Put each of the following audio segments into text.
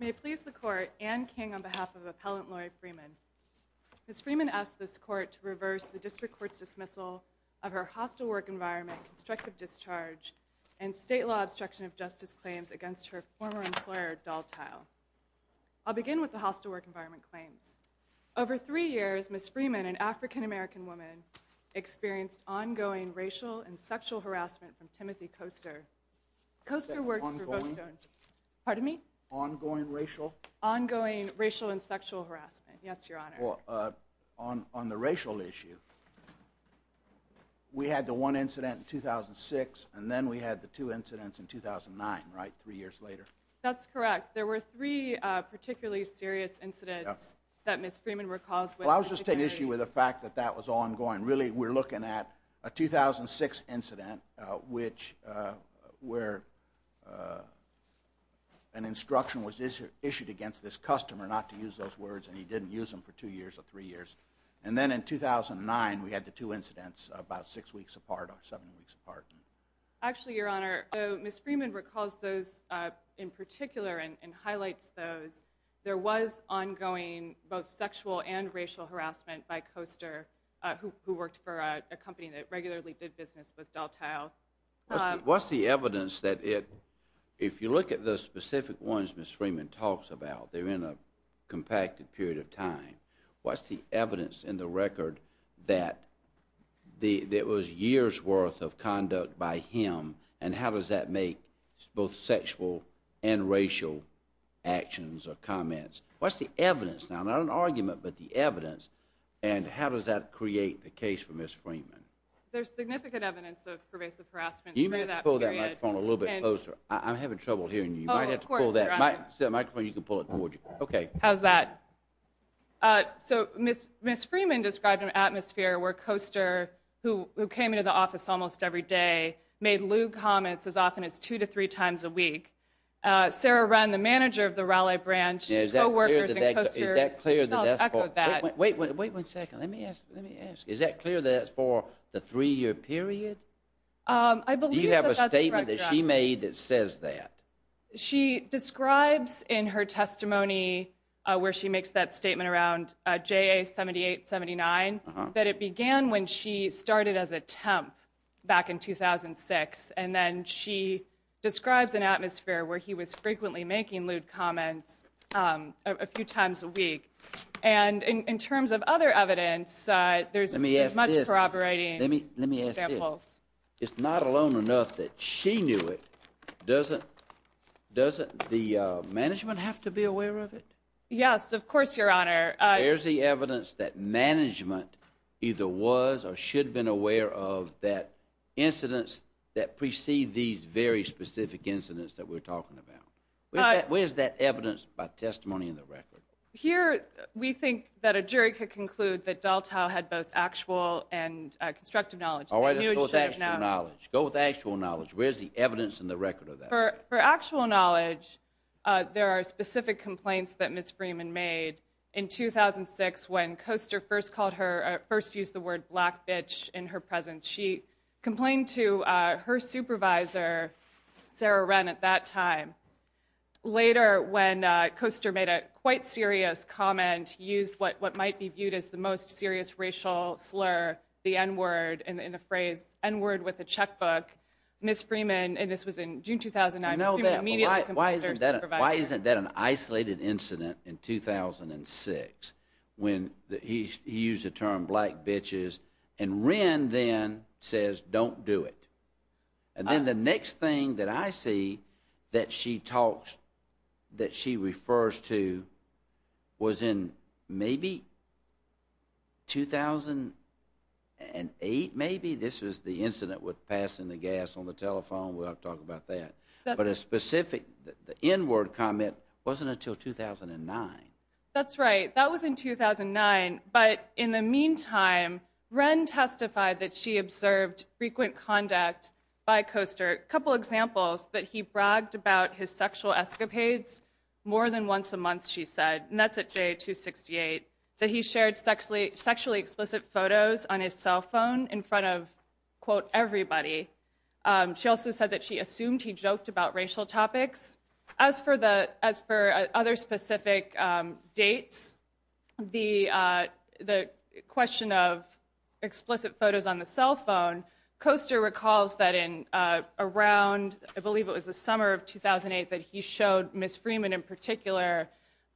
May it please the Court, Anne King on behalf of Appellant Lori Freeman. Ms. Freeman asked this Court to reverse the District Court's dismissal of her hostile work environment, constructive discharge, and state law obstruction of justice claims against her former employer Dal-Tile. I'll begin with the hostile work environment claims. Over three years, Ms. Freeman, an African-American woman, experienced ongoing racial and sexual harassment from Timothy Koester. Koester worked for Votestone. Pardon me? Ongoing racial? Ongoing racial and sexual harassment, yes, Your Honor. Well, on the racial issue, we had the one incident in 2006 and then we had the two incidents in 2009, right, three years later? That's correct. There were three particularly serious incidents that Ms. Freeman recalls. Well, I was just taking issue with the fact that that was ongoing. Really, we're looking at a 2006 incident where an instruction was issued against this customer not to use those words and he didn't use them for two years or three years. And then in 2009, we had the two incidents about six weeks apart or seven weeks apart. Actually, Your Honor, Ms. Freeman recalls those in particular and highlights those. There was ongoing both sexual and racial harassment by Koester who worked for a company that regularly did business with Dal-Tile. What's the evidence that if you look at the specific ones Ms. Freeman talks about, they're in a compacted period of time. What's the evidence in the record that it was years' worth of conduct by him and how does that make both sexual and racial actions or comments? What's the evidence? Now, not an argument, but the evidence and how does that create the case for Ms. Freeman? There's significant evidence of pervasive harassment through that period. You may have to pull that microphone a little bit closer. I'm having trouble hearing you. You might have to pull that. Oh, of course, Your Honor. The microphone, you can pull it towards you. Okay. How's that? So, Ms. Freeman described an atmosphere where Koester, who came into the office almost every day, made lewd comments as often as two to three times a week. Sarah Renn, the manager of the Raleigh branch, co-workers and Koester, self-echoed that. Wait one second. Let me ask. Is that clear that it's for the three-year period? I believe that that's correct, Your Honor. Do you have a statement that she made that says that? She describes in her testimony where she makes that statement around JA-78-79 that it began when she started as a temp back in 2006, and then she describes an atmosphere where he was frequently making lewd comments a few times a week. And in terms of other evidence, there's much corroborating examples. Let me ask this. It's not alone enough that she knew it. Doesn't the management have to be aware of it? Yes, of course, Your Honor. Where's the evidence that management either was or should have been aware of that incidents that precede these very specific incidents that we're talking about? Where's that evidence by testimony in the record? Here, we think that a jury could conclude that Daltow had both actual and constructive knowledge. All right, let's go with actual knowledge. Go with actual knowledge. Where's the evidence in the record of that? For actual knowledge, there are specific complaints that Ms. Freeman made. In 2006, when Koester first used the word black bitch in her presence, she complained to her supervisor, Sarah Wren, at that time. Later, when Koester made a quite serious comment, used what might be viewed as the most serious racial slur, the N-word, and the phrase N-word with a checkbook, Ms. Freeman, and this was in June 2009, Ms. Freeman immediately complained to her supervisor. Why isn't that an isolated incident in 2006 when he used the term black bitches, and Wren then says don't do it? And then the next thing that I see that she talks, that she refers to, was in maybe 2008 maybe? This was the incident with passing the gas on the telephone. We'll have to talk about that. But a specific N-word comment wasn't until 2009. That's right. That was in 2009. But in the meantime, Wren testified that she observed frequent conduct by Koester. A couple examples, that he bragged about his sexual escapades more than once a month, she said. And that's at J268. That he shared sexually explicit photos on his cell phone in front of, quote, everybody. She also said that she assumed he joked about racial topics. As for other specific dates, the question of explicit photos on the cell phone, Koester recalls that in around, I believe it was the summer of 2008, that he showed Ms. Freeman in particular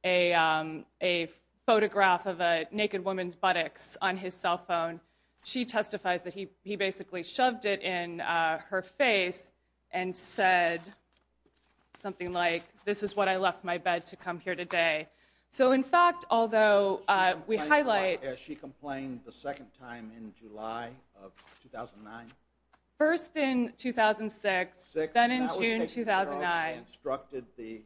a photograph of a naked woman's buttocks on his cell phone. She testifies that he basically shoved it in her face and said something like, this is what I left my bed to come here today. So in fact, although we highlight. She complained the second time in July of 2009? First in 2006. Then in June 2009. She instructed the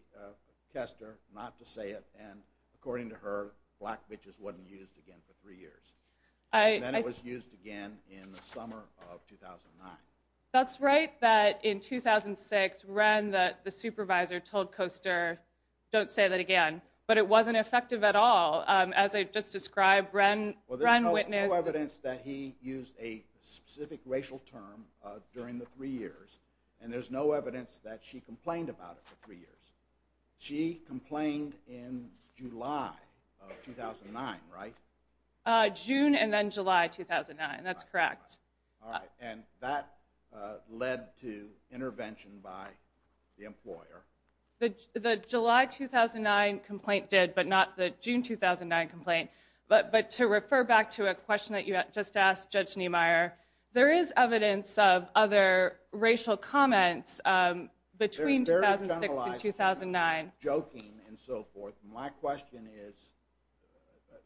Koester not to say it. And according to her, black bitches wasn't used again for three years. And then it was used again in the summer of 2009. That's right, that in 2006, Ren, the supervisor, told Koester, don't say that again. But it wasn't effective at all. As I just described, Ren witnessed. Well, there's no evidence that he used a specific racial term during the three years. And there's no evidence that she complained about it for three years. She complained in July of 2009, right? June and then July 2009. That's correct. All right. And that led to intervention by the employer. The July 2009 complaint did, but not the June 2009 complaint. But to refer back to a question that you just asked, Judge Niemeyer, there is evidence of other racial comments between 2006 and 2009. They're very generalized. Joking and so forth. My question is,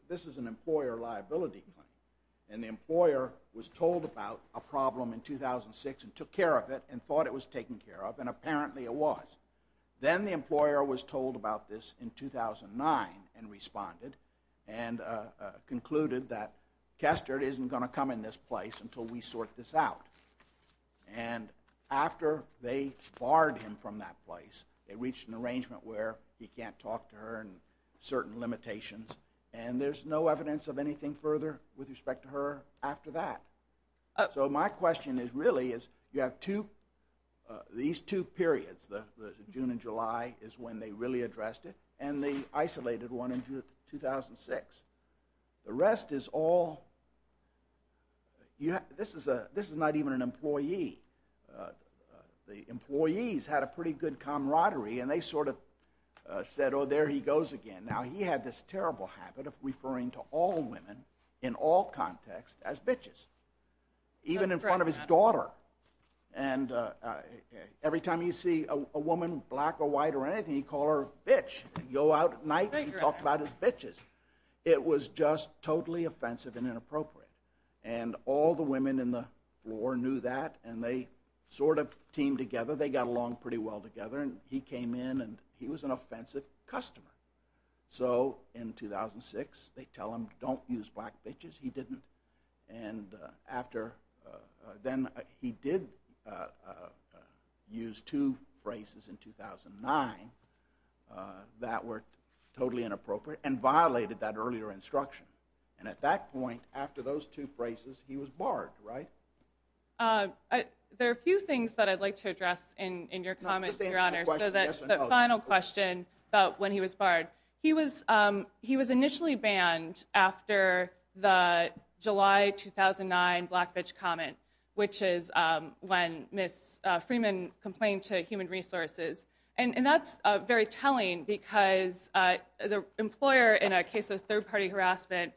this is an employer liability claim. And the employer was told about a problem in 2006 and took care of it and thought it was taken care of, and apparently it was. Then the employer was told about this in 2009 and responded and concluded that Koester isn't going to come in this place until we sort this out. And after they barred him from that place, they reached an arrangement where he can't talk to her and certain limitations. And there's no evidence of anything further with respect to her after that. So my question really is, you have these two periods, the June and July is when they really addressed it, and the isolated one in 2006. The rest is all, this is not even an employee. The employees had a pretty good camaraderie, and they sort of said, oh, there he goes again. Now, he had this terrible habit of referring to all women in all contexts as bitches. Even in front of his daughter. And every time you see a woman, black or white or anything, you call her a bitch. You go out at night and talk about it as bitches. It was just totally offensive and inappropriate. And all the women in the floor knew that, and they sort of teamed together. They got along pretty well together. And he came in, and he was an offensive customer. So in 2006, they tell him, don't use black bitches. He didn't. And then he did use two phrases in 2009 that were totally inappropriate and violated that earlier instruction. And at that point, after those two phrases, he was barred, right? There are a few things that I'd like to address in your comments, Your Honor. So the final question about when he was barred. He was initially banned after the July 2009 black bitch comment, which is when Ms. Freeman complained to Human Resources. And that's very telling, because the employer, in a case of third-party harassment,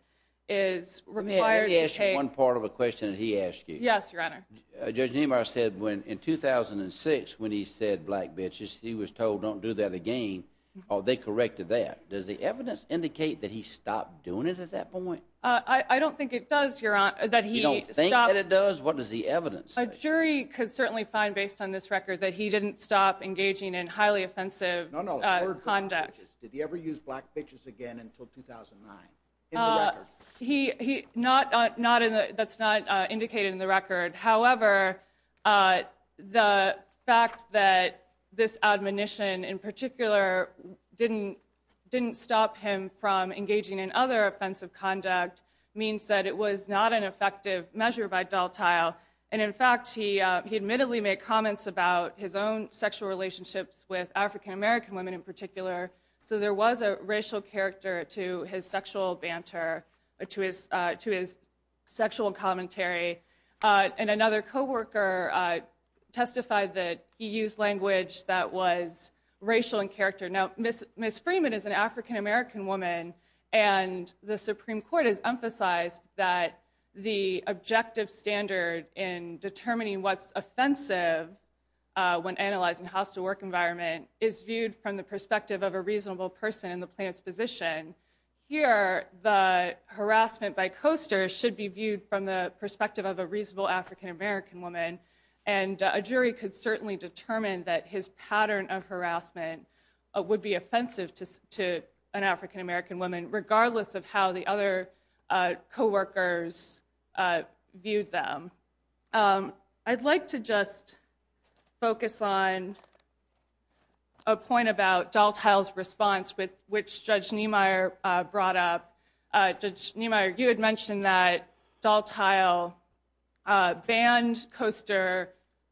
is required to take— Let me ask you one part of a question that he asked you. Yes, Your Honor. Judge Nemar said in 2006, when he said black bitches, he was told, don't do that again. Oh, they corrected that. Does the evidence indicate that he stopped doing it at that point? I don't think it does, Your Honor. You don't think that it does? What does the evidence say? A jury could certainly find, based on this record, that he didn't stop engaging in highly offensive conduct. No, no. Did he ever use black bitches again until 2009, in the record? That's not indicated in the record. However, the fact that this admonition in particular didn't stop him from engaging in other offensive conduct means that it was not an effective measure by dole tile. And in fact, he admittedly made comments about his own sexual relationships with African-American women in particular. So there was a racial character to his sexual banter, to his sexual commentary. And another co-worker testified that he used language that was racial in character. Now, Ms. Freeman is an African-American woman. And the Supreme Court has emphasized that the objective standard in determining what's offensive when analyzing house-to-work environment is viewed from the perspective of a reasonable person in the plaintiff's position. Here, the harassment by Coaster should be viewed from the perspective of a reasonable African-American woman. And a jury could certainly determine that his pattern of harassment would be offensive to an African-American woman, regardless of how the other co-workers viewed them. I'd like to just focus on a point about dole tile's response, which Judge Niemeyer brought up. Judge Niemeyer, you had mentioned that dole tile banned Coaster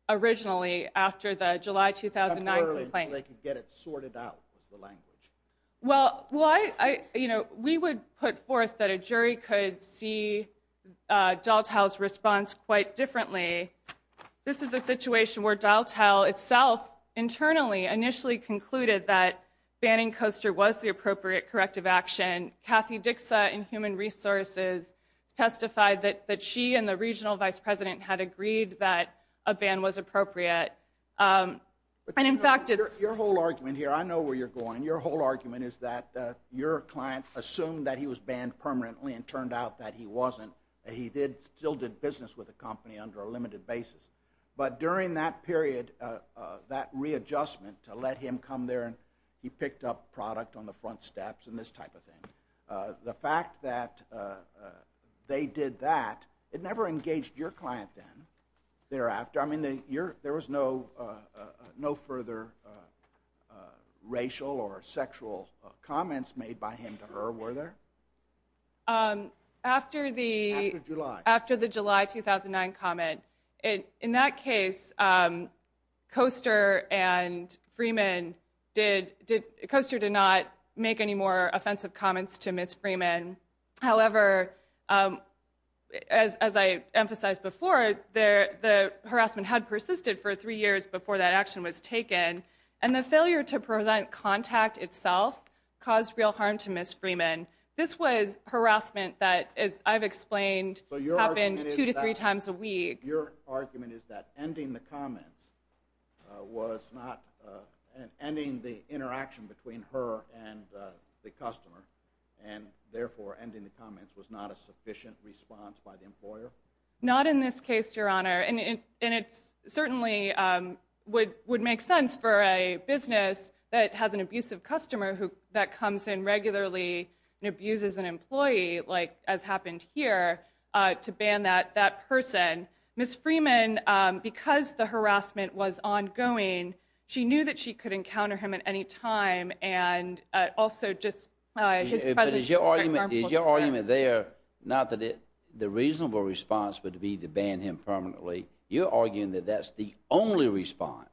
originally after the July 2009 complaint. They could get it sorted out, was the language. Well, we would put forth that a jury could see dole tile's response quite differently. This is a situation where dole tile itself internally initially concluded that banning Coaster was the appropriate corrective action. Kathy Dixa in Human Resources testified that she and the regional vice president had agreed that a ban was appropriate. Your whole argument here, I know where you're going. Your whole argument is that your client assumed that he was banned permanently and turned out that he wasn't. He still did business with the company under a limited basis. But during that period, that readjustment to let him come there and he picked up product on the front steps and this type of thing. The fact that they did that, it never engaged your client then. There was no further racial or sexual comments made by him to her, were there? After the July 2009 comment. In that case, Coaster and Freeman did not make any more offensive comments to Ms. Freeman. However, as I emphasized before, the harassment had persisted for three years before that action was taken. And the failure to prevent contact itself caused real harm to Ms. Freeman. This was harassment that, as I've explained, happened two to three times a week. Your argument is that ending the comments was not, ending the interaction between her and the customer, and therefore ending the comments was not a sufficient response by the employer? Not in this case, Your Honor. And it certainly would make sense for a business that has an abusive customer that comes in regularly and abuses an employee, like has happened here, to ban that person. Ms. Freeman, because the harassment was ongoing, she knew that she could encounter him at any time and also just his presence was very harmful to her. But is your argument there not that the reasonable response would be to ban him permanently? You're arguing that that's the only response.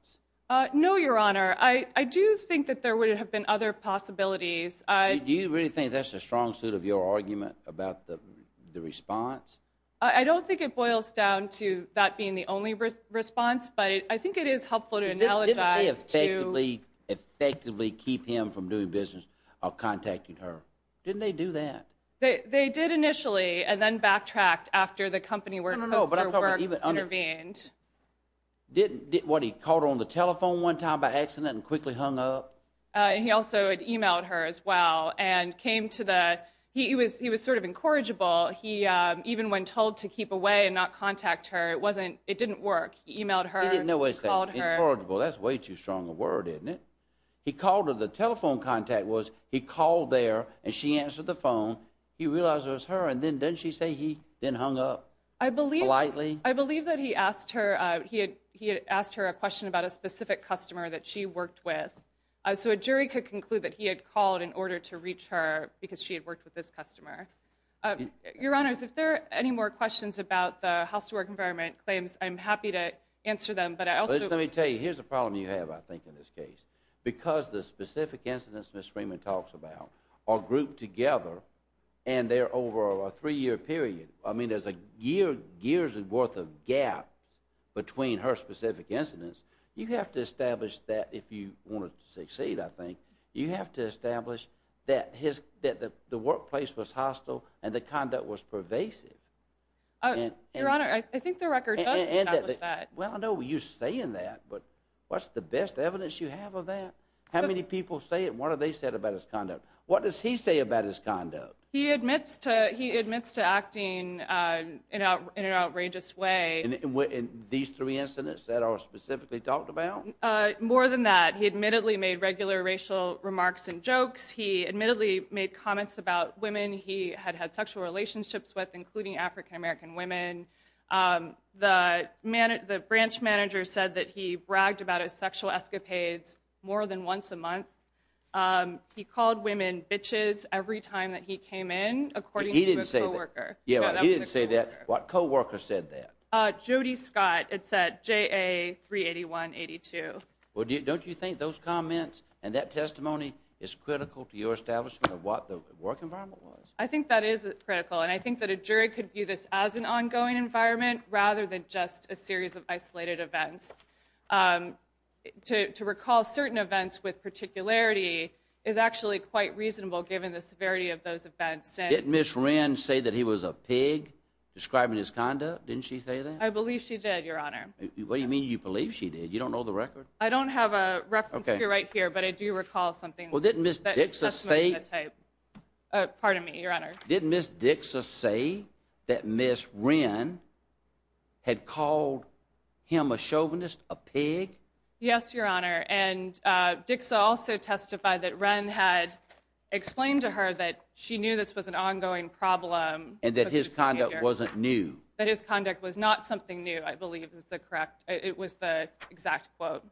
No, Your Honor. I do think that there would have been other possibilities. Do you really think that's a strong suit of your argument about the response? I don't think it boils down to that being the only response, but I think it is helpful to analogize to— Didn't they effectively keep him from doing business or contacting her? Didn't they do that? They did initially and then backtracked after the company worked— No, no, no, but I'm talking about even— —intervened. What, he called her on the telephone one time by accident and quickly hung up? And he also had emailed her as well and came to the—he was sort of incorrigible. Even when told to keep away and not contact her, it didn't work. He emailed her. He didn't know what he was saying. He called her. Incorrigible, that's way too strong a word, isn't it? He called her. The telephone contact was he called there and she answered the phone. He realized it was her and then didn't she say he then hung up politely? I believe that he asked her—he had asked her a question about a specific customer that she worked with, so a jury could conclude that he had called in order to reach her because she had worked with this customer. Your Honors, if there are any more questions about the house-to-work environment claims, I'm happy to answer them, but I also— Let me tell you, here's a problem you have, I think, in this case. Because the specific incidents Ms. Freeman talks about are grouped together and they're over a three-year period. I mean, there's a year's worth of gap between her specific incidents. You have to establish that if you want to succeed, I think. You have to establish that the workplace was hostile and the conduct was pervasive. Your Honor, I think the record does establish that. Well, I know you're saying that, but what's the best evidence you have of that? How many people say it? What have they said about his conduct? What does he say about his conduct? He admits to acting in an outrageous way. In these three incidents that are specifically talked about? More than that. He admittedly made regular racial remarks and jokes. He admittedly made comments about women he had had sexual relationships with, including African-American women. The branch manager said that he bragged about his sexual escapades more than once a month. He called women bitches every time that he came in, according to his co-worker. He didn't say that. He didn't say that. What co-worker said that? Jody Scott. It's at JA 381-82. Well, don't you think those comments and that testimony is critical to your establishment of what the work environment was? I think that is critical. And I think that a jury could view this as an ongoing environment rather than just a series of isolated events. To recall certain events with particularity is actually quite reasonable, given the severity of those events. Didn't Ms. Wren say that he was a pig, describing his conduct? Didn't she say that? I believe she did, Your Honor. What do you mean you believe she did? You don't know the record? I don't have a reference here right here, but I do recall something. Well, didn't Ms. Dixon say? Pardon me, Your Honor. Didn't Ms. Dixon say that Ms. Wren had called him a chauvinist, a pig? Yes, Your Honor. And Dixon also testified that Wren had explained to her that she knew this was an ongoing problem. And that his conduct wasn't new. That his conduct was not something new, I believe is the correct—it was the exact quote.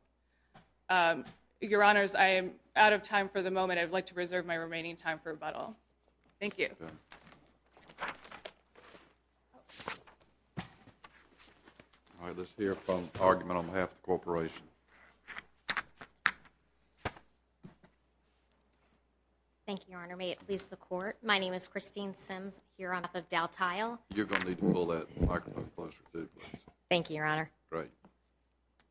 Your Honors, I am out of time for the moment. I would like to reserve my remaining time for rebuttal. Thank you. All right. Let's hear an argument on behalf of the corporation. Thank you, Your Honor. May it please the Court. My name is Christine Sims. I'm here on behalf of Dow Tile. You're going to need to pull that microphone closer, too, please. Thank you, Your Honor. Great.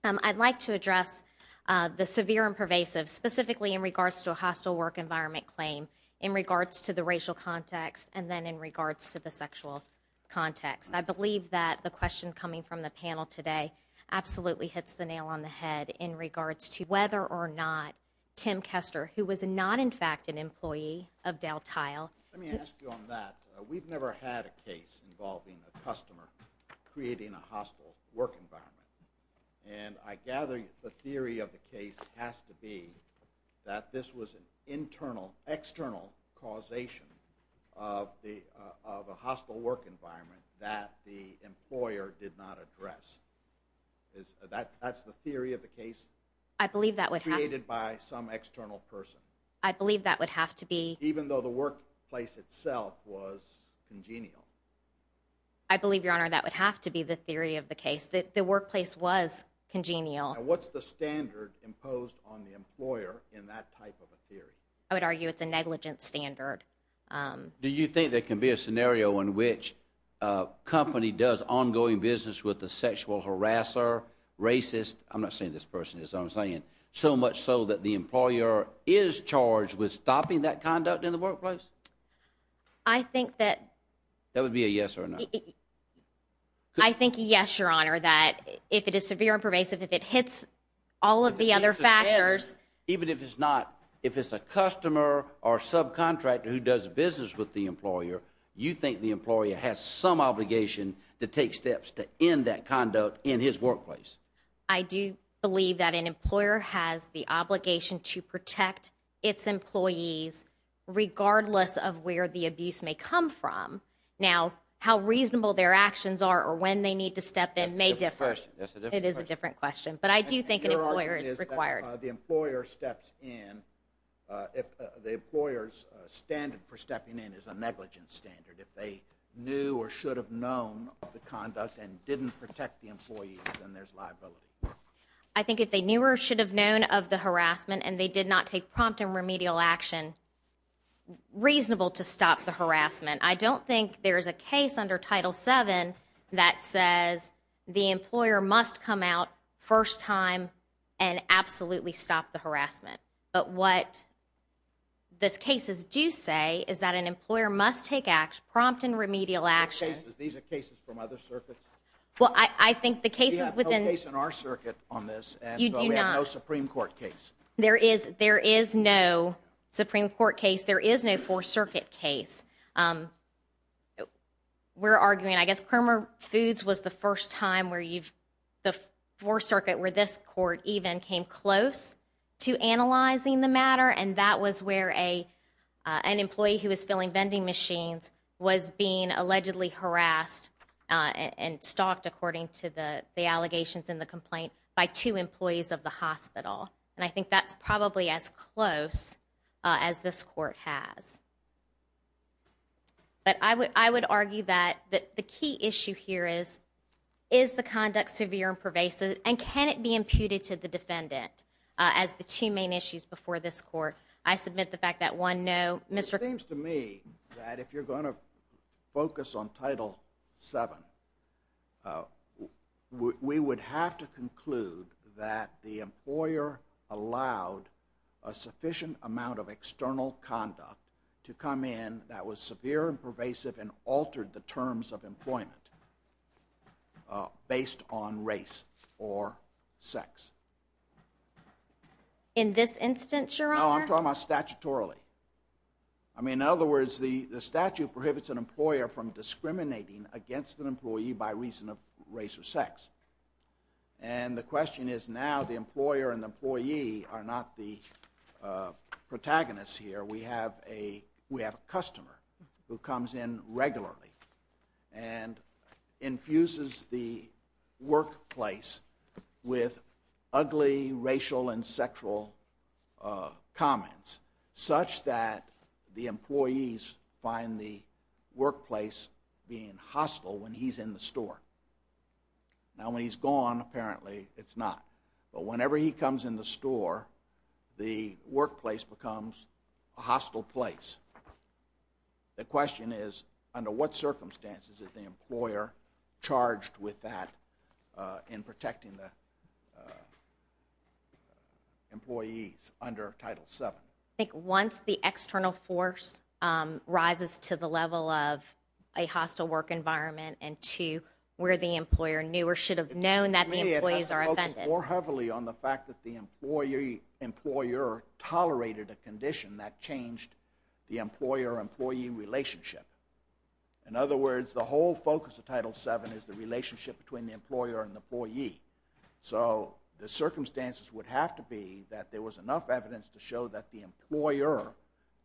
I'd like to address the severe and pervasive, specifically in regards to a hostile work environment claim, in regards to the racial context, and then in regards to the sexual context. I believe that the question coming from the panel today absolutely hits the nail on the head in regards to whether or not Tim Kester, who was not, in fact, an employee of Dow Tile— Let me ask you on that. We've never had a case involving a customer creating a hostile work environment. And I gather the theory of the case has to be that this was an internal, external causation of a hostile work environment that the employer did not address. That's the theory of the case created by some external person. I believe that would have to be— Even though the workplace itself was congenial. I believe, Your Honor, that would have to be the theory of the case. That the workplace was congenial. Now, what's the standard imposed on the employer in that type of a theory? I would argue it's a negligent standard. Do you think there can be a scenario in which a company does ongoing business with a sexual harasser, racist— I'm not saying this person is, I'm saying— so much so that the employer is charged with stopping that conduct in the workplace? I think that— That would be a yes or a no. I think yes, Your Honor, that if it is severe and pervasive, if it hits all of the other factors— Even if it's not, if it's a customer or subcontractor who does business with the employer, you think the employer has some obligation to take steps to end that conduct in his workplace? I do believe that an employer has the obligation to protect its employees, regardless of where the abuse may come from. Now, how reasonable their actions are or when they need to step in may differ. It's a different question. It is a different question. But I do think an employer is required. The employer steps in, the employer's standard for stepping in is a negligent standard. If they knew or should have known of the conduct and didn't protect the employees, then there's liability. I think if they knew or should have known of the harassment, and they did not take prompt and remedial action, reasonable to stop the harassment. I don't think there's a case under Title VII that says the employer must come out first time and absolutely stop the harassment. But what these cases do say is that an employer must take prompt and remedial action. These are cases from other circuits? Well, I think the cases within— We have no case in our circuit on this. You do not? We have no Supreme Court case. There is no Supreme Court case. There is no Fourth Circuit case. We're arguing—I guess Kramer Foods was the first time where you've—the Fourth Circuit, where this court even came close to analyzing the matter, and that was where an employee who was filling vending machines was being allegedly harassed and stalked, according to the allegations in the complaint, by two employees of the hospital. And I think that's probably as close as this court has. But I would argue that the key issue here is, is the conduct severe and pervasive, and can it be imputed to the defendant as the two main issues before this court? I submit the fact that one, no. It seems to me that if you're going to focus on Title VII, we would have to conclude that the employer allowed a sufficient amount of external conduct to come in that was severe and pervasive and altered the terms of employment based on race or sex. In this instance, Your Honor? No, I'm talking about statutorily. I mean, in other words, the statute prohibits an employer from discriminating against an employee by reason of race or sex. And the question is, now the employer and the employee are not the protagonists here. We have a customer who comes in regularly and infuses the workplace with ugly racial and sexual comments, such that the employees find the workplace being hostile when he's in the store. Now, when he's gone, apparently it's not. But whenever he comes in the store, the workplace becomes a hostile place. The question is, under what circumstances is the employer charged with that in protecting the employees under Title VII? I think once the external force rises to the level of a hostile work environment and to where the employer knew or should have known that the employees are offended. It seems to me it has to focus more heavily on the fact that the employer tolerated a condition that changed the employer-employee relationship. In other words, the whole focus of Title VII is the relationship between the employer and the employee. So the circumstances would have to be that there was enough evidence to show that the employer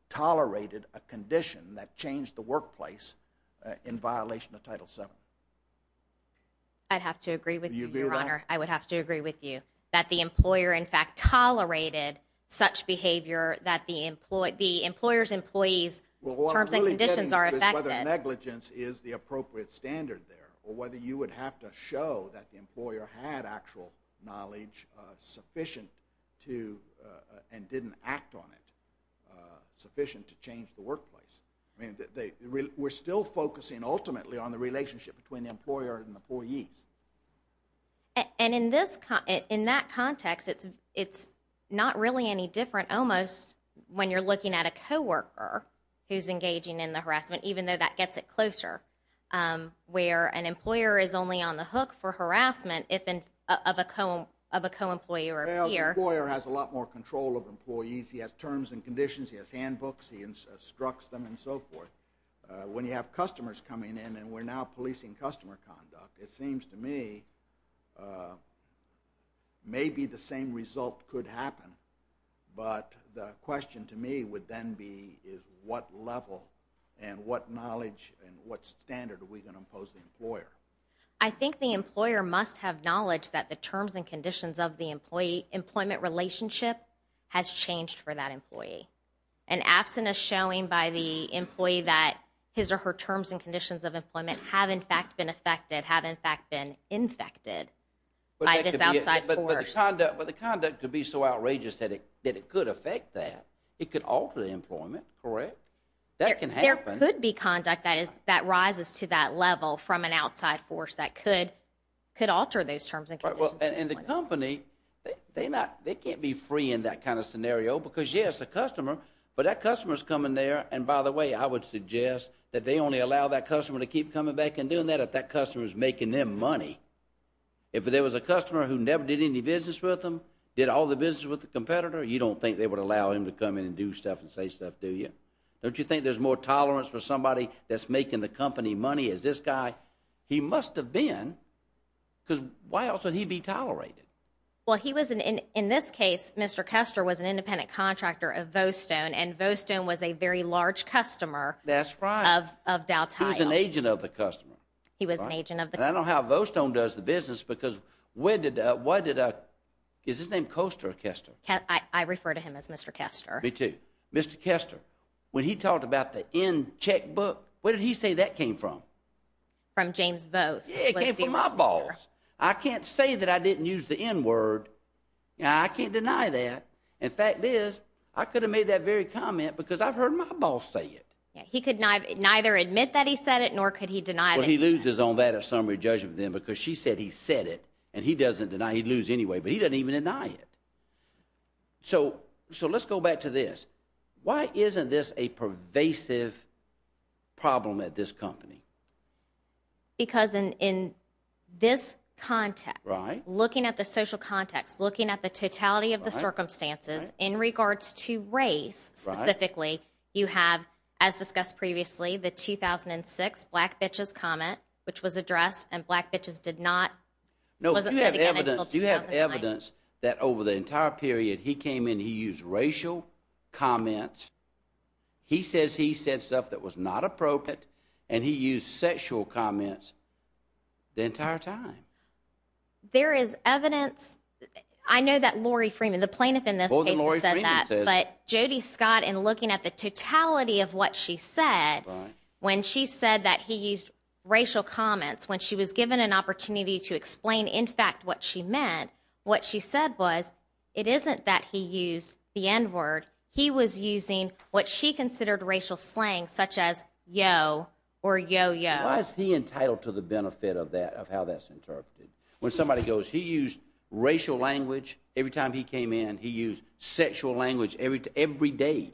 tolerated a condition that changed the workplace in violation of Title VII. I'd have to agree with you, Your Honor. I would have to agree with you. That the employer, in fact, tolerated such behavior that the employer's employees' terms and conditions are affected. Well, what I'm really getting at is whether negligence is the appropriate standard there or whether you would have to show that the employer had actual knowledge sufficient to, and didn't act on it, sufficient to change the workplace. I mean, we're still focusing ultimately on the relationship between the employer and the employees. And in that context, it's not really any different almost when you're looking at a co-worker who's engaging in the harassment, even though that gets it closer, where an employer is only on the hook for harassment of a co-employee or a peer. Well, the employer has a lot more control of employees. He has terms and conditions. He has handbooks. He instructs them and so forth. When you have customers coming in, and we're now policing customer conduct, it seems to me maybe the same result could happen. But the question to me would then be is what level and what knowledge and what standard are we going to impose on the employer? I think the employer must have knowledge that the terms and conditions of the employee-employment relationship has changed for that employee. An abstinence showing by the employee that his or her terms and conditions of employment have, in fact, been affected, have, in fact, been infected by this outside force. But the conduct could be so outrageous that it could affect that. It could alter the employment, correct? That can happen. There could be conduct that rises to that level from an outside force that could alter those terms and conditions. And the company, they can't be free in that kind of scenario because, yes, the customer, but that customer's coming there, and by the way, I would suggest that they only allow that customer to keep coming back and doing that if that customer's making them money. If there was a customer who never did any business with them, did all the business with the competitor, you don't think they would allow him to come in and do stuff and say stuff, do you? Don't you think there's more tolerance for somebody that's making the company money? Is this guy, he must have been because why else would he be tolerated? Well, he was, in this case, Mr. Custer was an independent contractor of Vostone, and Vostone was a very large customer of Dow Tiles. He was an agent of the customer. He was an agent of the customer. And I know how Vostone does the business because when did, why did, is his name Coaster or Custer? I refer to him as Mr. Custer. Me too. Mr. Custer, when he talked about the N checkbook, where did he say that came from? From James Vost. Yeah, it came from my boss. I can't say that I didn't use the N word. I can't deny that. In fact, Liz, I could have made that very comment because I've heard my boss say it. He could neither admit that he said it nor could he deny it. Well, he loses on that if somebody judges him because she said he said it, and he doesn't deny he'd lose anyway, but he doesn't even deny it. So let's go back to this. Why isn't this a pervasive problem at this company? Because in this context, looking at the social context, looking at the totality of the circumstances in regards to race specifically, you have, as discussed previously, the 2006 Black Bitches comment, which was addressed, and Black Bitches did not. No, you have evidence that over the entire period he came in, he used racial comments. He says he said stuff that was not appropriate, and he used sexual comments the entire time. There is evidence. I know that Lori Freeman, the plaintiff in this case, has said that, but Jody Scott, in looking at the totality of what she said, when she said that he used racial comments, when she was given an opportunity to explain, in fact, what she meant, what she said was it isn't that he used the N-word. He was using what she considered racial slang, such as yo or yo-yo. Why is he entitled to the benefit of how that's interpreted? When somebody goes, he used racial language every time he came in, he used sexual language every day.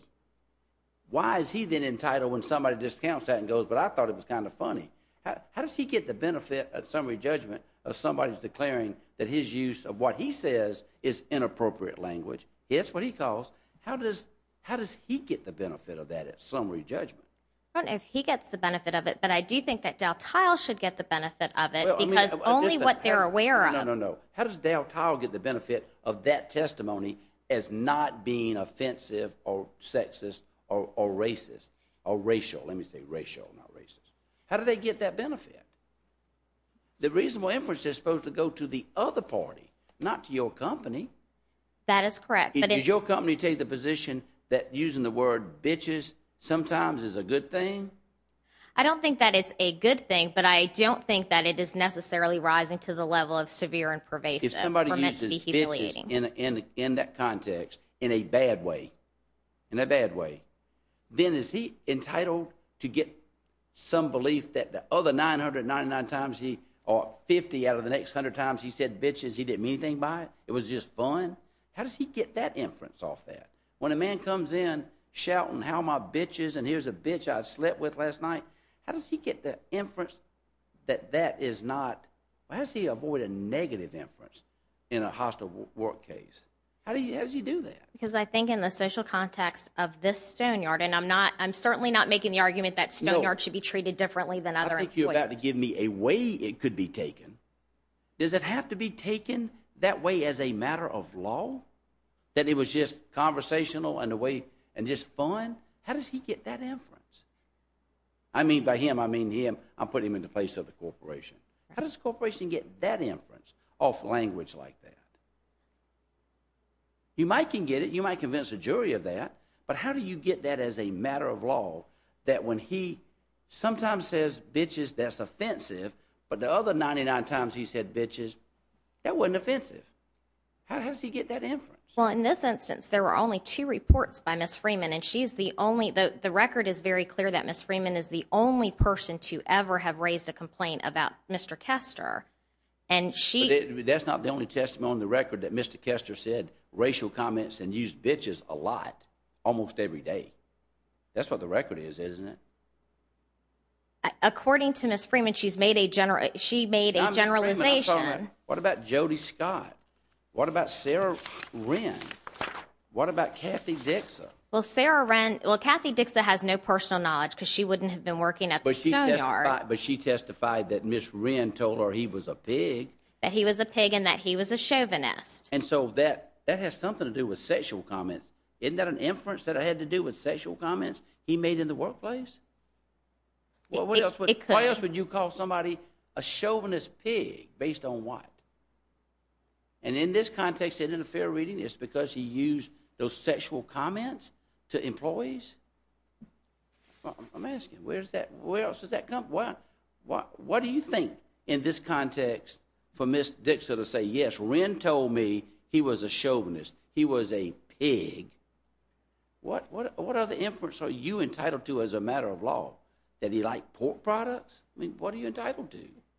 Why is he then entitled when somebody discounts that and goes, but I thought it was kind of funny. How does he get the benefit at summary judgment of somebody declaring that his use of what he says is inappropriate language? It's what he calls. How does he get the benefit of that at summary judgment? I don't know if he gets the benefit of it, but I do think that Daltyle should get the benefit of it because only what they're aware of. No, no, no. How does Daltyle get the benefit of that testimony as not being offensive or sexist or racist or racial? Let me say racial, not racist. How do they get that benefit? The reasonable inference is supposed to go to the other party, not to your company. That is correct. Does your company take the position that using the word bitches sometimes is a good thing? I don't think that it's a good thing, but I don't think that it is necessarily rising to the level of severe and pervasive or meant to be humiliating. If somebody uses bitches in that context in a bad way, in a bad way, then is he entitled to get some belief that the other 999 times or 50 out of the next 100 times he said bitches, he didn't mean anything by it, it was just fun? How does he get that inference off that? When a man comes in shouting how my bitches and here's a bitch I slept with last night, how does he get the inference that that is not, how does he avoid a negative inference in a hostile work case? How does he do that? Because I think in the social context of this stonyard, and I'm certainly not making the argument that stonyards should be treated differently than other employers. I think you're about to give me a way it could be taken. Does it have to be taken that way as a matter of law, that it was just conversational and just fun? How does he get that inference? I mean by him, I mean him, I'm putting him in the place of the corporation. How does the corporation get that inference off language like that? You might can get it, you might convince a jury of that, but how do you get that as a matter of law, that when he sometimes says bitches, that's offensive, but the other 99 times he said bitches, that wasn't offensive. How does he get that inference? Well, in this instance, there were only two reports by Ms. Freeman, and she's the only, the record is very clear that Ms. Freeman is the only person to ever have raised a complaint about Mr. Kester. That's not the only testimony on the record that Mr. Kester said racial comments and used bitches a lot, almost every day. That's what the record is, isn't it? According to Ms. Freeman, she made a generalization. What about Jody Scott? What about Sarah Wren? What about Kathy Dixa? Well, Kathy Dixa has no personal knowledge because she wouldn't have been working at the stone yard. But she testified that Ms. Wren told her he was a pig. That he was a pig and that he was a chauvinist. And so that has something to do with sexual comments. Isn't that an inference that it had to do with sexual comments he made in the workplace? Why else would you call somebody a chauvinist pig based on what? And in this context, and in a fair reading, it's because he used those sexual comments to employees? I'm asking, where else does that come from? What do you think in this context for Ms. Dixa to say, yes, Wren told me he was a chauvinist. He was a pig. What other inference are you entitled to as a matter of law? That he liked pork products? I mean, what are you entitled to?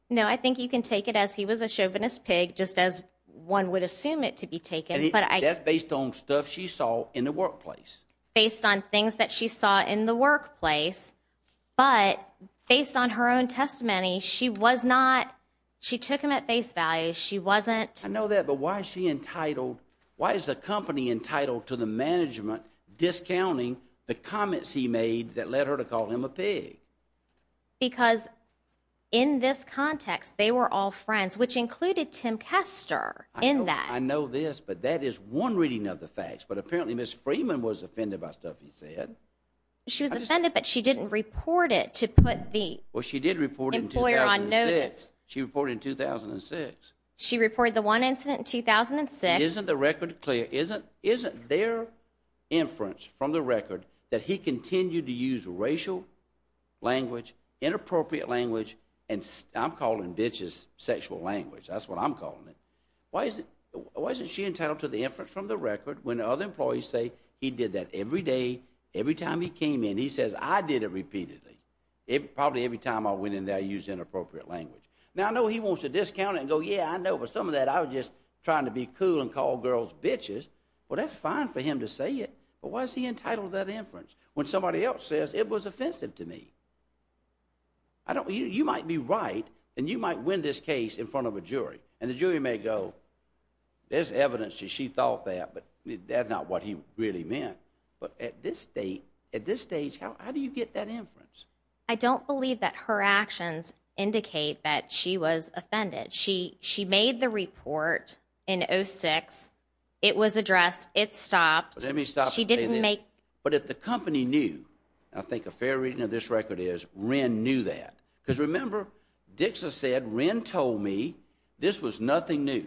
No, I think you can take it as he was a chauvinist pig, just as one would assume it to be taken. That's based on stuff she saw in the workplace. Based on things that she saw in the workplace. But based on her own testimony, she was not, she took him at face value. She wasn't. I know that, but why is she entitled? Why is the company entitled to the management discounting the comments he made that led her to call him a pig? Because in this context, they were all friends, which included Tim Kester in that. I know this, but that is one reading of the facts. But apparently Ms. Freeman was offended by stuff he said. She was offended, but she didn't report it to put the employer on notice. Well, she did report it in 2006. She reported it in 2006. She reported the one incident in 2006. Isn't the record clear? Language, inappropriate language, and I'm calling bitches sexual language. That's what I'm calling it. Why isn't she entitled to the inference from the record when other employees say he did that every day, every time he came in. He says, I did it repeatedly. Probably every time I went in there, I used inappropriate language. Now, I know he wants to discount it and go, yeah, I know, but some of that I was just trying to be cool and call girls bitches. Well, that's fine for him to say it, but why is he entitled to that inference when somebody else says it was offensive to me? You might be right, and you might win this case in front of a jury, and the jury may go, there's evidence that she thought that, but that's not what he really meant. But at this stage, how do you get that inference? I don't believe that her actions indicate that she was offended. She made the report in 2006. It was addressed. It stopped. But if the company knew, I think a fair reading of this record is, Wren knew that. Because remember, Dixon said, Wren told me this was nothing new.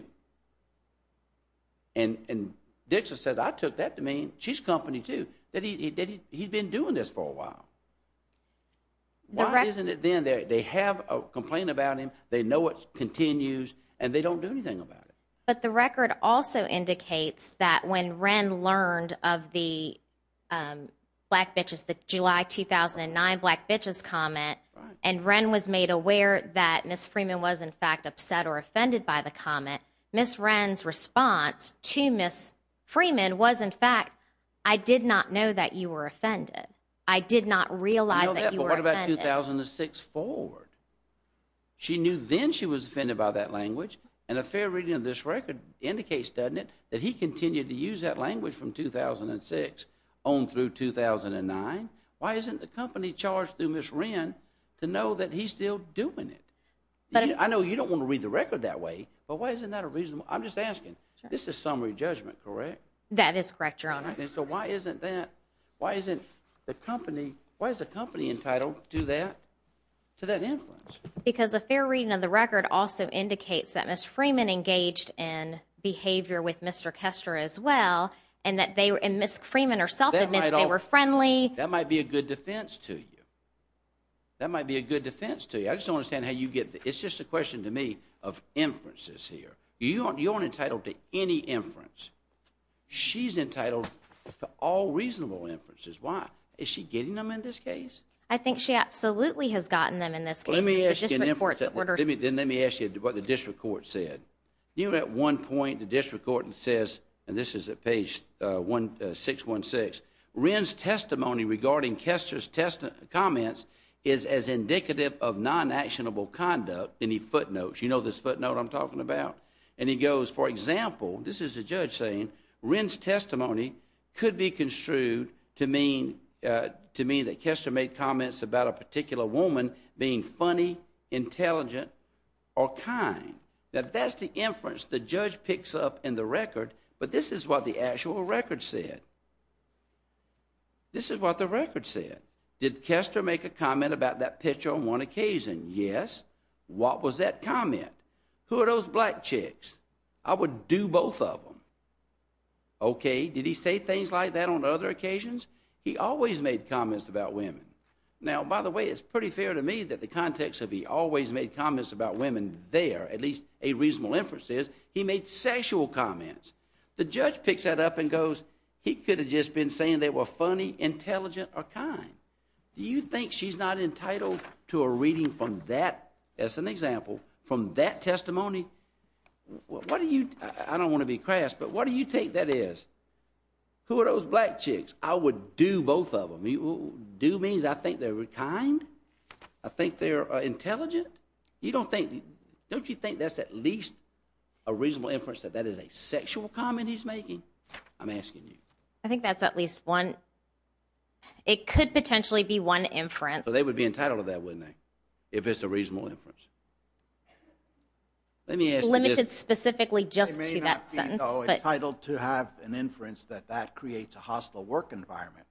And Dixon said, I took that to mean she's company too, that he'd been doing this for a while. Why isn't it then that they have a complaint about him, they know it continues, and they don't do anything about it? But the record also indicates that when Wren learned of the Black Bitches, the July 2009 Black Bitches comment, and Wren was made aware that Ms. Freeman was, in fact, upset or offended by the comment, Ms. Wren's response to Ms. Freeman was, in fact, I did not know that you were offended. I did not realize that you were offended. But what about 2006 forward? She knew then she was offended by that language, and a fair reading of this record indicates, doesn't it, that he continued to use that language from 2006 on through 2009. Why isn't the company charged through Ms. Wren to know that he's still doing it? I know you don't want to read the record that way, but why isn't that a reasonable? I'm just asking. This is summary judgment, correct? That is correct, Your Honor. So why isn't the company entitled to that influence? Because a fair reading of the record also indicates that Ms. Freeman engaged in behavior with Mr. Kester as well, and Ms. Freeman herself admits they were friendly. That might be a good defense to you. That might be a good defense to you. I just don't understand how you get the – it's just a question to me of inferences here. You aren't entitled to any inference. She's entitled to all reasonable inferences. Why? Is she getting them in this case? I think she absolutely has gotten them in this case. Then let me ask you what the district court said. At one point the district court says, and this is at page 616, Wren's testimony regarding Kester's comments is as indicative of non-actionable conduct, and he footnotes. You know this footnote I'm talking about. And he goes, for example, this is the judge saying, Wren's testimony could be construed to mean that Kester made comments about a particular woman being funny, intelligent, or kind. Now that's the inference the judge picks up in the record, but this is what the actual record said. This is what the record said. Did Kester make a comment about that picture on one occasion? Yes. What was that comment? Who are those black chicks? I would do both of them. Okay, did he say things like that on other occasions? He always made comments about women. Now, by the way, it's pretty fair to me that the context of he always made comments about women there, at least a reasonable inference is, he made sexual comments. The judge picks that up and goes, he could have just been saying they were funny, intelligent, or kind. Do you think she's not entitled to a reading from that, as an example, from that testimony? I don't want to be crass, but what do you take that as? Who are those black chicks? I would do both of them. Do means I think they're kind, I think they're intelligent. Don't you think that's at least a reasonable inference that that is a sexual comment he's making? I'm asking you. I think that's at least one. It could potentially be one inference. They would be entitled to that, wouldn't they, if it's a reasonable inference? Limited specifically just to that sentence. They may not be entitled to have an inference that that creates a hostile work environment.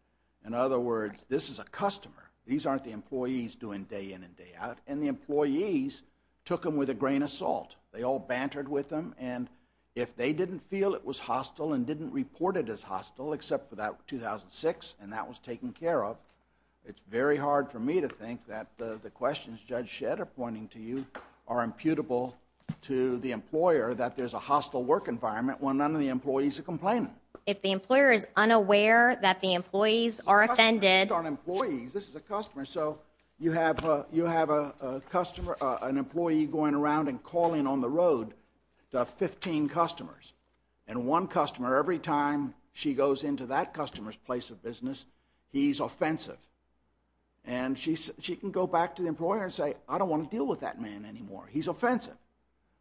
In other words, this is a customer. These aren't the employees doing day in and day out, and the employees took them with a grain of salt. They all bantered with them, and if they didn't feel it was hostile and didn't report it as hostile, except for that 2006, and that was taken care of, it's very hard for me to think that the questions Judge Shedd are pointing to you are imputable to the employer that there's a hostile work environment when none of the employees are complaining. If the employer is unaware that the employees are offended. These aren't employees. This is a customer. So you have an employee going around and calling on the road to have 15 customers, and one customer, every time she goes into that customer's place of business, he's offensive. And she can go back to the employer and say, I don't want to deal with that man anymore. He's offensive.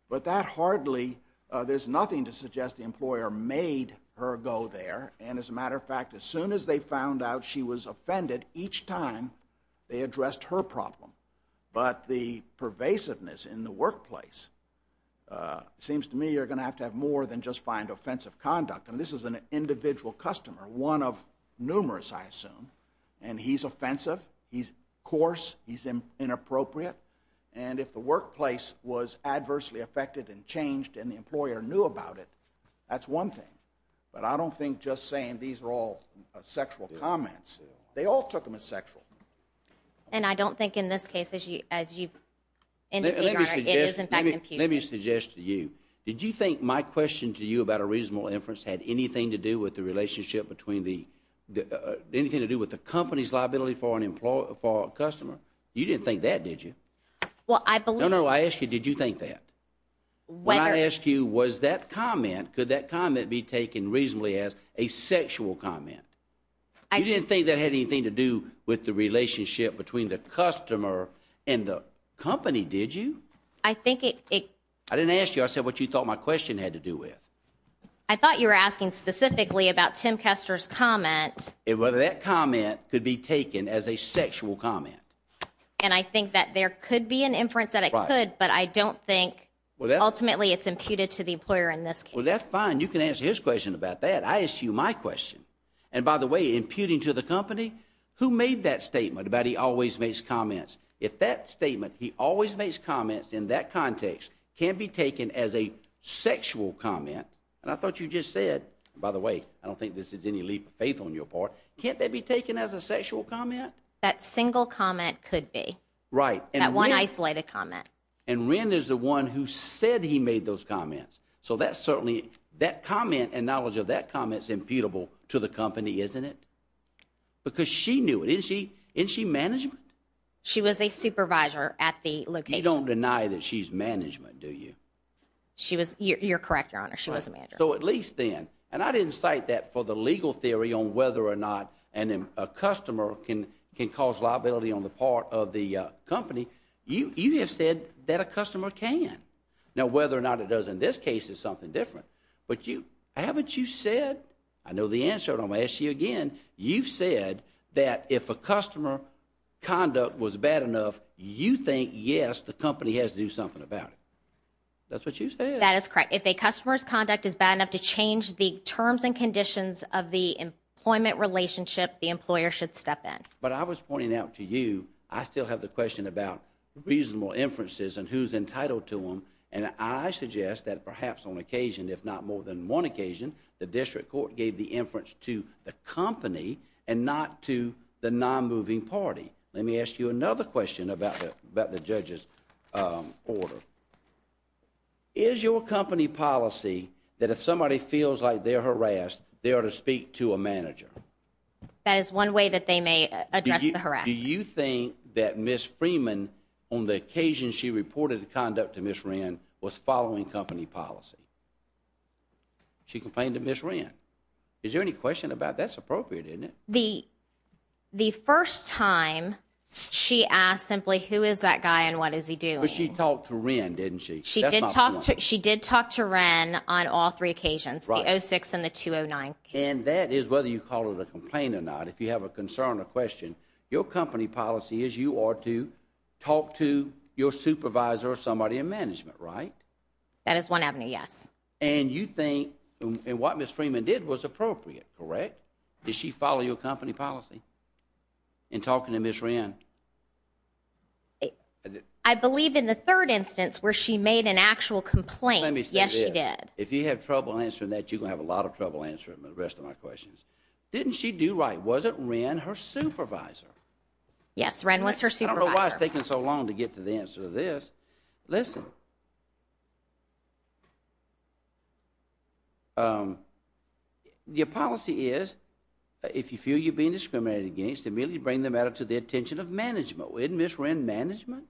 But that hardly, there's nothing to suggest the employer made her go there. And as a matter of fact, as soon as they found out she was offended, each time they addressed her problem. But the pervasiveness in the workplace seems to me you're going to have to have more than just find offensive conduct. And this is an individual customer, one of numerous, I assume. And he's offensive. He's coarse. He's inappropriate. And if the workplace was adversely affected and changed and the employer knew about it, that's one thing. But I don't think just saying these are all sexual comments. They all took them as sexual. And I don't think in this case, as you've indicated, Your Honor, it is in fact impudent. Let me suggest to you. Did you think my question to you about a reasonable inference had anything to do with the relationship between the, anything to do with the company's liability for a customer? You didn't think that, did you? Well, I believe. No, no. I asked you did you think that? When I asked you was that comment, could that comment be taken reasonably as a sexual comment? You didn't think that had anything to do with the relationship between the customer and the company, did you? I think it. I didn't ask you. I said what you thought my question had to do with. I thought you were asking specifically about Tim Kester's comment. Whether that comment could be taken as a sexual comment. And I think that there could be an inference that it could, but I don't think ultimately it's imputed to the employer in this case. Well, that's fine. You can answer his question about that. I asked you my question. And by the way, imputing to the company, who made that statement about he always makes comments? If that statement, he always makes comments in that context, can be taken as a sexual comment, and I thought you just said, by the way, I don't think this is any leap of faith on your part. Can't that be taken as a sexual comment? That single comment could be. Right. That one isolated comment. And Wren is the one who said he made those comments. So that's certainly, that comment and knowledge of that comment is imputable to the company, isn't it? Because she knew it. Isn't she management? She was a supervisor at the location. You don't deny that she's management, do you? You're correct, Your Honor. She was a manager. So at least then, and I didn't cite that for the legal theory on whether or not a customer can cause liability on the part of the company. You have said that a customer can. Now, whether or not it does in this case is something different. But haven't you said, I know the answer, and I'm going to ask you again, you've said that if a customer conduct was bad enough, you think, yes, the company has to do something about it. That's what you said. That is correct. If a customer's conduct is bad enough to change the terms and conditions of the employment relationship, the employer should step in. But I was pointing out to you, I still have the question about reasonable inferences and who's entitled to them. And I suggest that perhaps on occasion, if not more than one occasion, the district court gave the inference to the company and not to the non-moving party. Let me ask you another question about the judge's order. Is your company policy that if somebody feels like they're harassed, they ought to speak to a manager? That is one way that they may address the harassment. Do you think that Ms. Freeman, on the occasion she reported the conduct to Ms. Wren, was following company policy? She complained to Ms. Wren. Is there any question about that? That's appropriate, isn't it? The first time, she asked simply, who is that guy and what is he doing? But she talked to Wren, didn't she? She did talk to Wren on all three occasions, the 06 and the 209. And that is whether you call it a complaint or not, if you have a concern or question, your company policy is you ought to talk to your supervisor or somebody in management, right? That is one avenue, yes. And you think what Ms. Freeman did was appropriate, correct? Did she follow your company policy in talking to Ms. Wren? I believe in the third instance where she made an actual complaint, yes, she did. If you have trouble answering that, you're going to have a lot of trouble answering the rest of my questions. Didn't she do right? Was it Wren, her supervisor? Yes, Wren was her supervisor. I don't know why it's taking so long to get to the answer to this. Listen, your policy is if you feel you're being discriminated against, immediately bring the matter to the attention of management. Wasn't Ms. Wren management?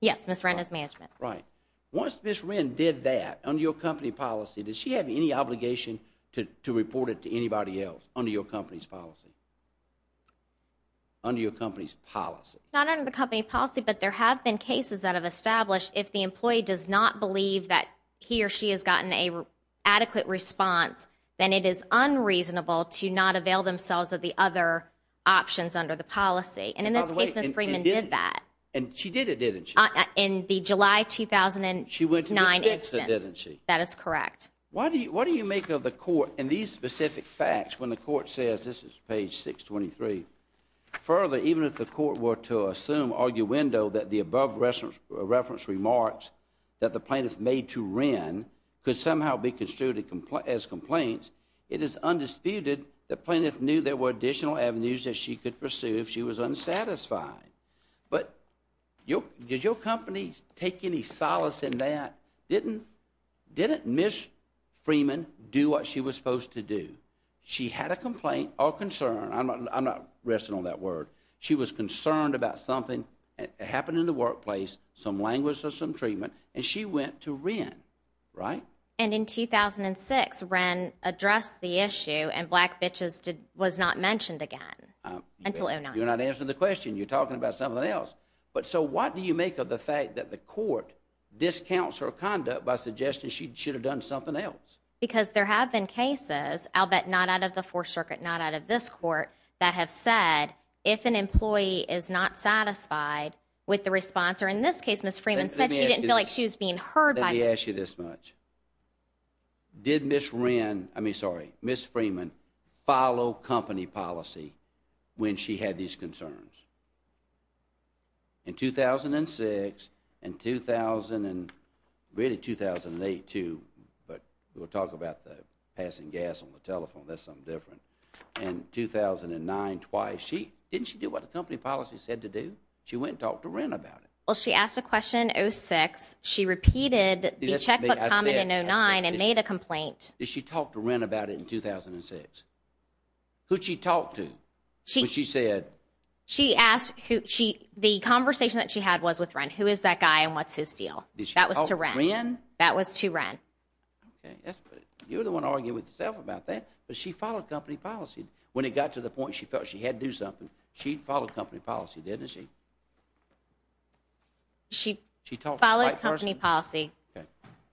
Yes, Ms. Wren is management. Right. Once Ms. Wren did that under your company policy, does she have any obligation to report it to anybody else under your company's policy? Under your company's policy? Not under the company policy, but there have been cases that have established if the employee does not believe that he or she has gotten an adequate response, then it is unreasonable to not avail themselves of the other options under the policy. And in this case, Ms. Freeman did that. And she did it, didn't she? In the July 2009 instance. She went to Ms. Bixon, didn't she? That is correct. What do you make of the court and these specific facts when the court says, this is page 623, further, even if the court were to assume arguendo that the above reference remarks that the plaintiff made to Wren could somehow be construed as complaints, it is undisputed the plaintiff knew there were additional avenues that she could pursue if she was unsatisfied. But did your company take any solace in that? Didn't Ms. Freeman do what she was supposed to do? She had a complaint or concern. I'm not resting on that word. She was concerned about something that happened in the workplace, some language or some treatment, and she went to Wren, right? And in 2006, Wren addressed the issue and black bitches was not mentioned again until 2009. You're not answering the question. You're talking about something else. So what do you make of the fact that the court discounts her conduct by suggesting she should have done something else? Because there have been cases, I'll bet not out of the Fourth Circuit, not out of this court, that have said if an employee is not satisfied with the response or in this case Ms. Freeman said she didn't feel like she was being heard by the court. Let me ask you this much. Did Ms. Freeman follow company policy when she had these concerns? In 2006 and really 2008 too, but we'll talk about the passing gas on the telephone. That's something different. In 2009 twice, didn't she do what the company policy said to do? She went and talked to Wren about it. Well, she asked a question in 2006. She repeated the checkbook comment in 2009 and made a complaint. Did she talk to Wren about it in 2006? Who'd she talk to when she said? The conversation that she had was with Wren. Who is that guy and what's his deal? That was to Wren. That was to Wren. Okay. You're the one arguing with yourself about that, but she followed company policy. When it got to the point she felt she had to do something, she followed company policy, didn't she? She followed company policy. Okay.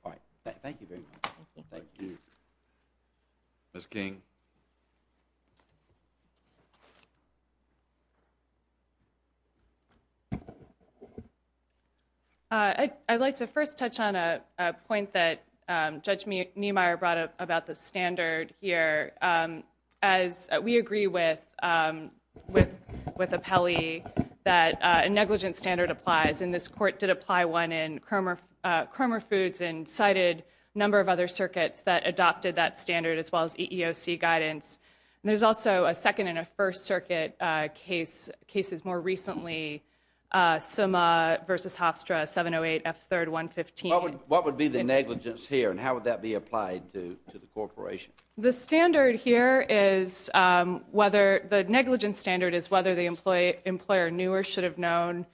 All right. Thank you very much. Thank you. Ms. King. I'd like to first touch on a point that Judge Niemeyer brought up about the standard here. As we agree with Apelli that a negligent standard applies, and this court did apply one in Kromer Foods and cited a number of other circuits that adopted that standard as well as EEOC guidance. There's also a second and a first circuit case, cases more recently, Summa v. Hofstra, 708F3-115. What would be the negligence here and how would that be applied to the corporation? The standard here is whether the negligence standard is whether the employer knew or should have known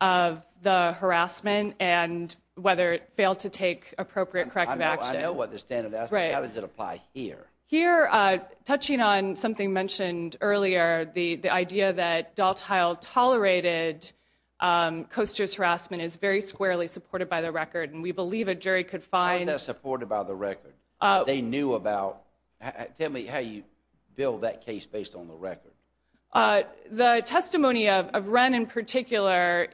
of the harassment and whether it failed to take appropriate corrective action. I know what the standard is. How does it apply here? Here, touching on something mentioned earlier, the idea that Daltile tolerated Coaster's harassment is very squarely supported by the record, and we believe a jury could find— How is that supported by the record? They knew about—tell me how you build that case based on the record. The testimony of Wren in particular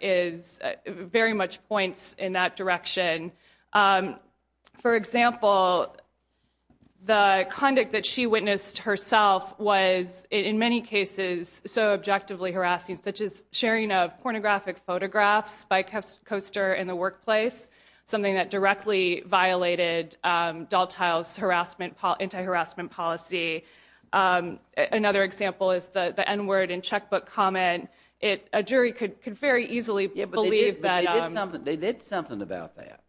very much points in that direction. For example, the conduct that she witnessed herself was in many cases so objectively harassing, such as sharing of pornographic photographs by Coaster in the workplace, something that directly violated Daltile's anti-harassment policy. Another example is the N-word in checkbook comment. A jury could very easily believe that— They did something about that.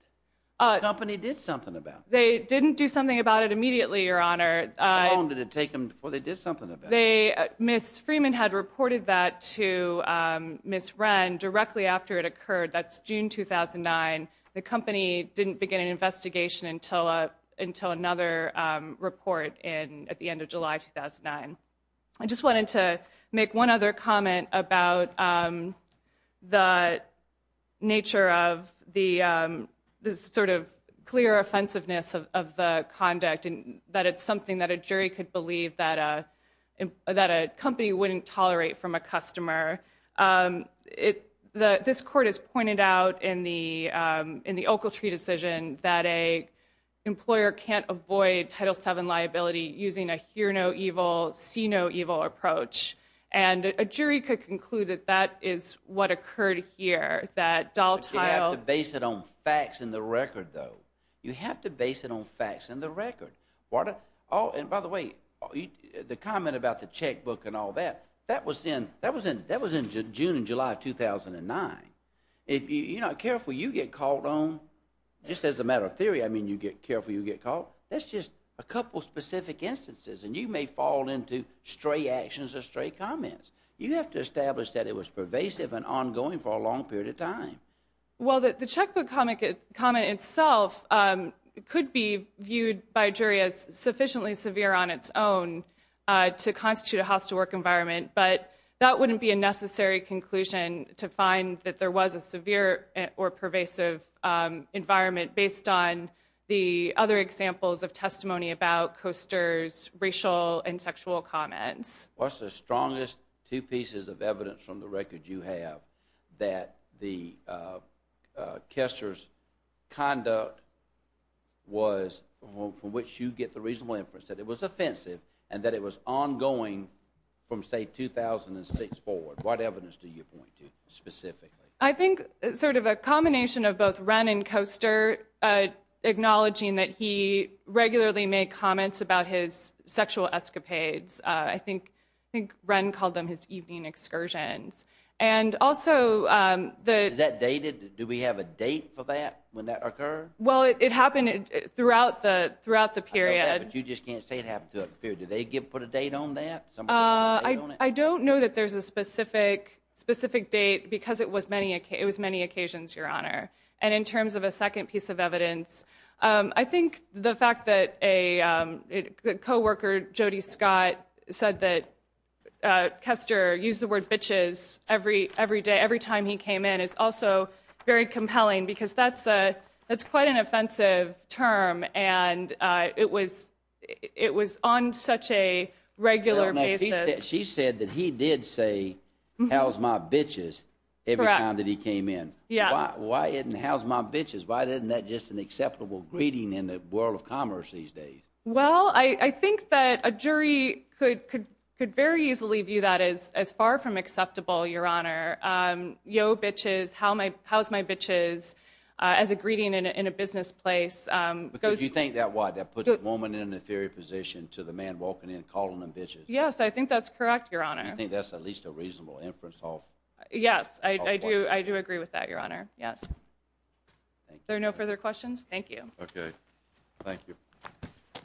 The company did something about that. They didn't do something about it immediately, Your Honor. How long did it take them before they did something about it? Ms. Freeman had reported that to Ms. Wren directly after it occurred. That's June 2009. The company didn't begin an investigation until another report at the end of July 2009. I just wanted to make one other comment about the nature of the sort of clear offensiveness of the conduct and that it's something that a jury could believe that a company wouldn't tolerate from a customer. This court has pointed out in the Oakletree decision that an employer can't avoid Title VII liability using a hear-no-evil, see-no-evil approach, and a jury could conclude that that is what occurred here, that Daltile— You have to base it on facts and the record, though. You have to base it on facts and the record. By the way, the comment about the checkbook and all that, that was in June and July of 2009. If you're not careful, you get caught on— Just as a matter of theory, I mean you get careful, you get caught. That's just a couple specific instances, and you may fall into stray actions or stray comments. You have to establish that it was pervasive and ongoing for a long period of time. Well, the checkbook comment itself could be viewed by a jury as sufficiently severe on its own to constitute a house-to-work environment, but that wouldn't be a necessary conclusion to find that there was a severe or pervasive environment based on the other examples of testimony about Koester's racial and sexual comments. What's the strongest two pieces of evidence from the record you have that the—Koester's conduct was—from which you get the reasonable inference that it was offensive and that it was ongoing from, say, 2006 forward? What evidence do you point to specifically? I think sort of a combination of both Wren and Koester acknowledging that he regularly made comments about his sexual escapades. I think Wren called them his evening excursions. And also the— Is that dated? Do we have a date for that, when that occurred? Well, it happened throughout the period. I know that, but you just can't say it happened throughout the period. Did they put a date on that? I don't know that there's a specific date because it was many occasions, Your Honor. And in terms of a second piece of evidence, I think the fact that a co-worker, Jody Scott, said that Koester used the word bitches every day, every time he came in, is also very compelling because that's quite an offensive term and it was on such a regular basis. She said that he did say, How's my bitches, every time that he came in. Correct. Why isn't how's my bitches? Why isn't that just an acceptable greeting in the world of commerce these days? Well, I think that a jury could very easily view that as far from acceptable, Your Honor. Yo, bitches, how's my bitches as a greeting in a business place Because you think that puts a woman in an inferior position to the man walking in and calling them bitches. Yes, I think that's correct, Your Honor. I think that's at least a reasonable inference. Yes, I do agree with that, Your Honor. Are there no further questions? Thank you. Okay. Thank you.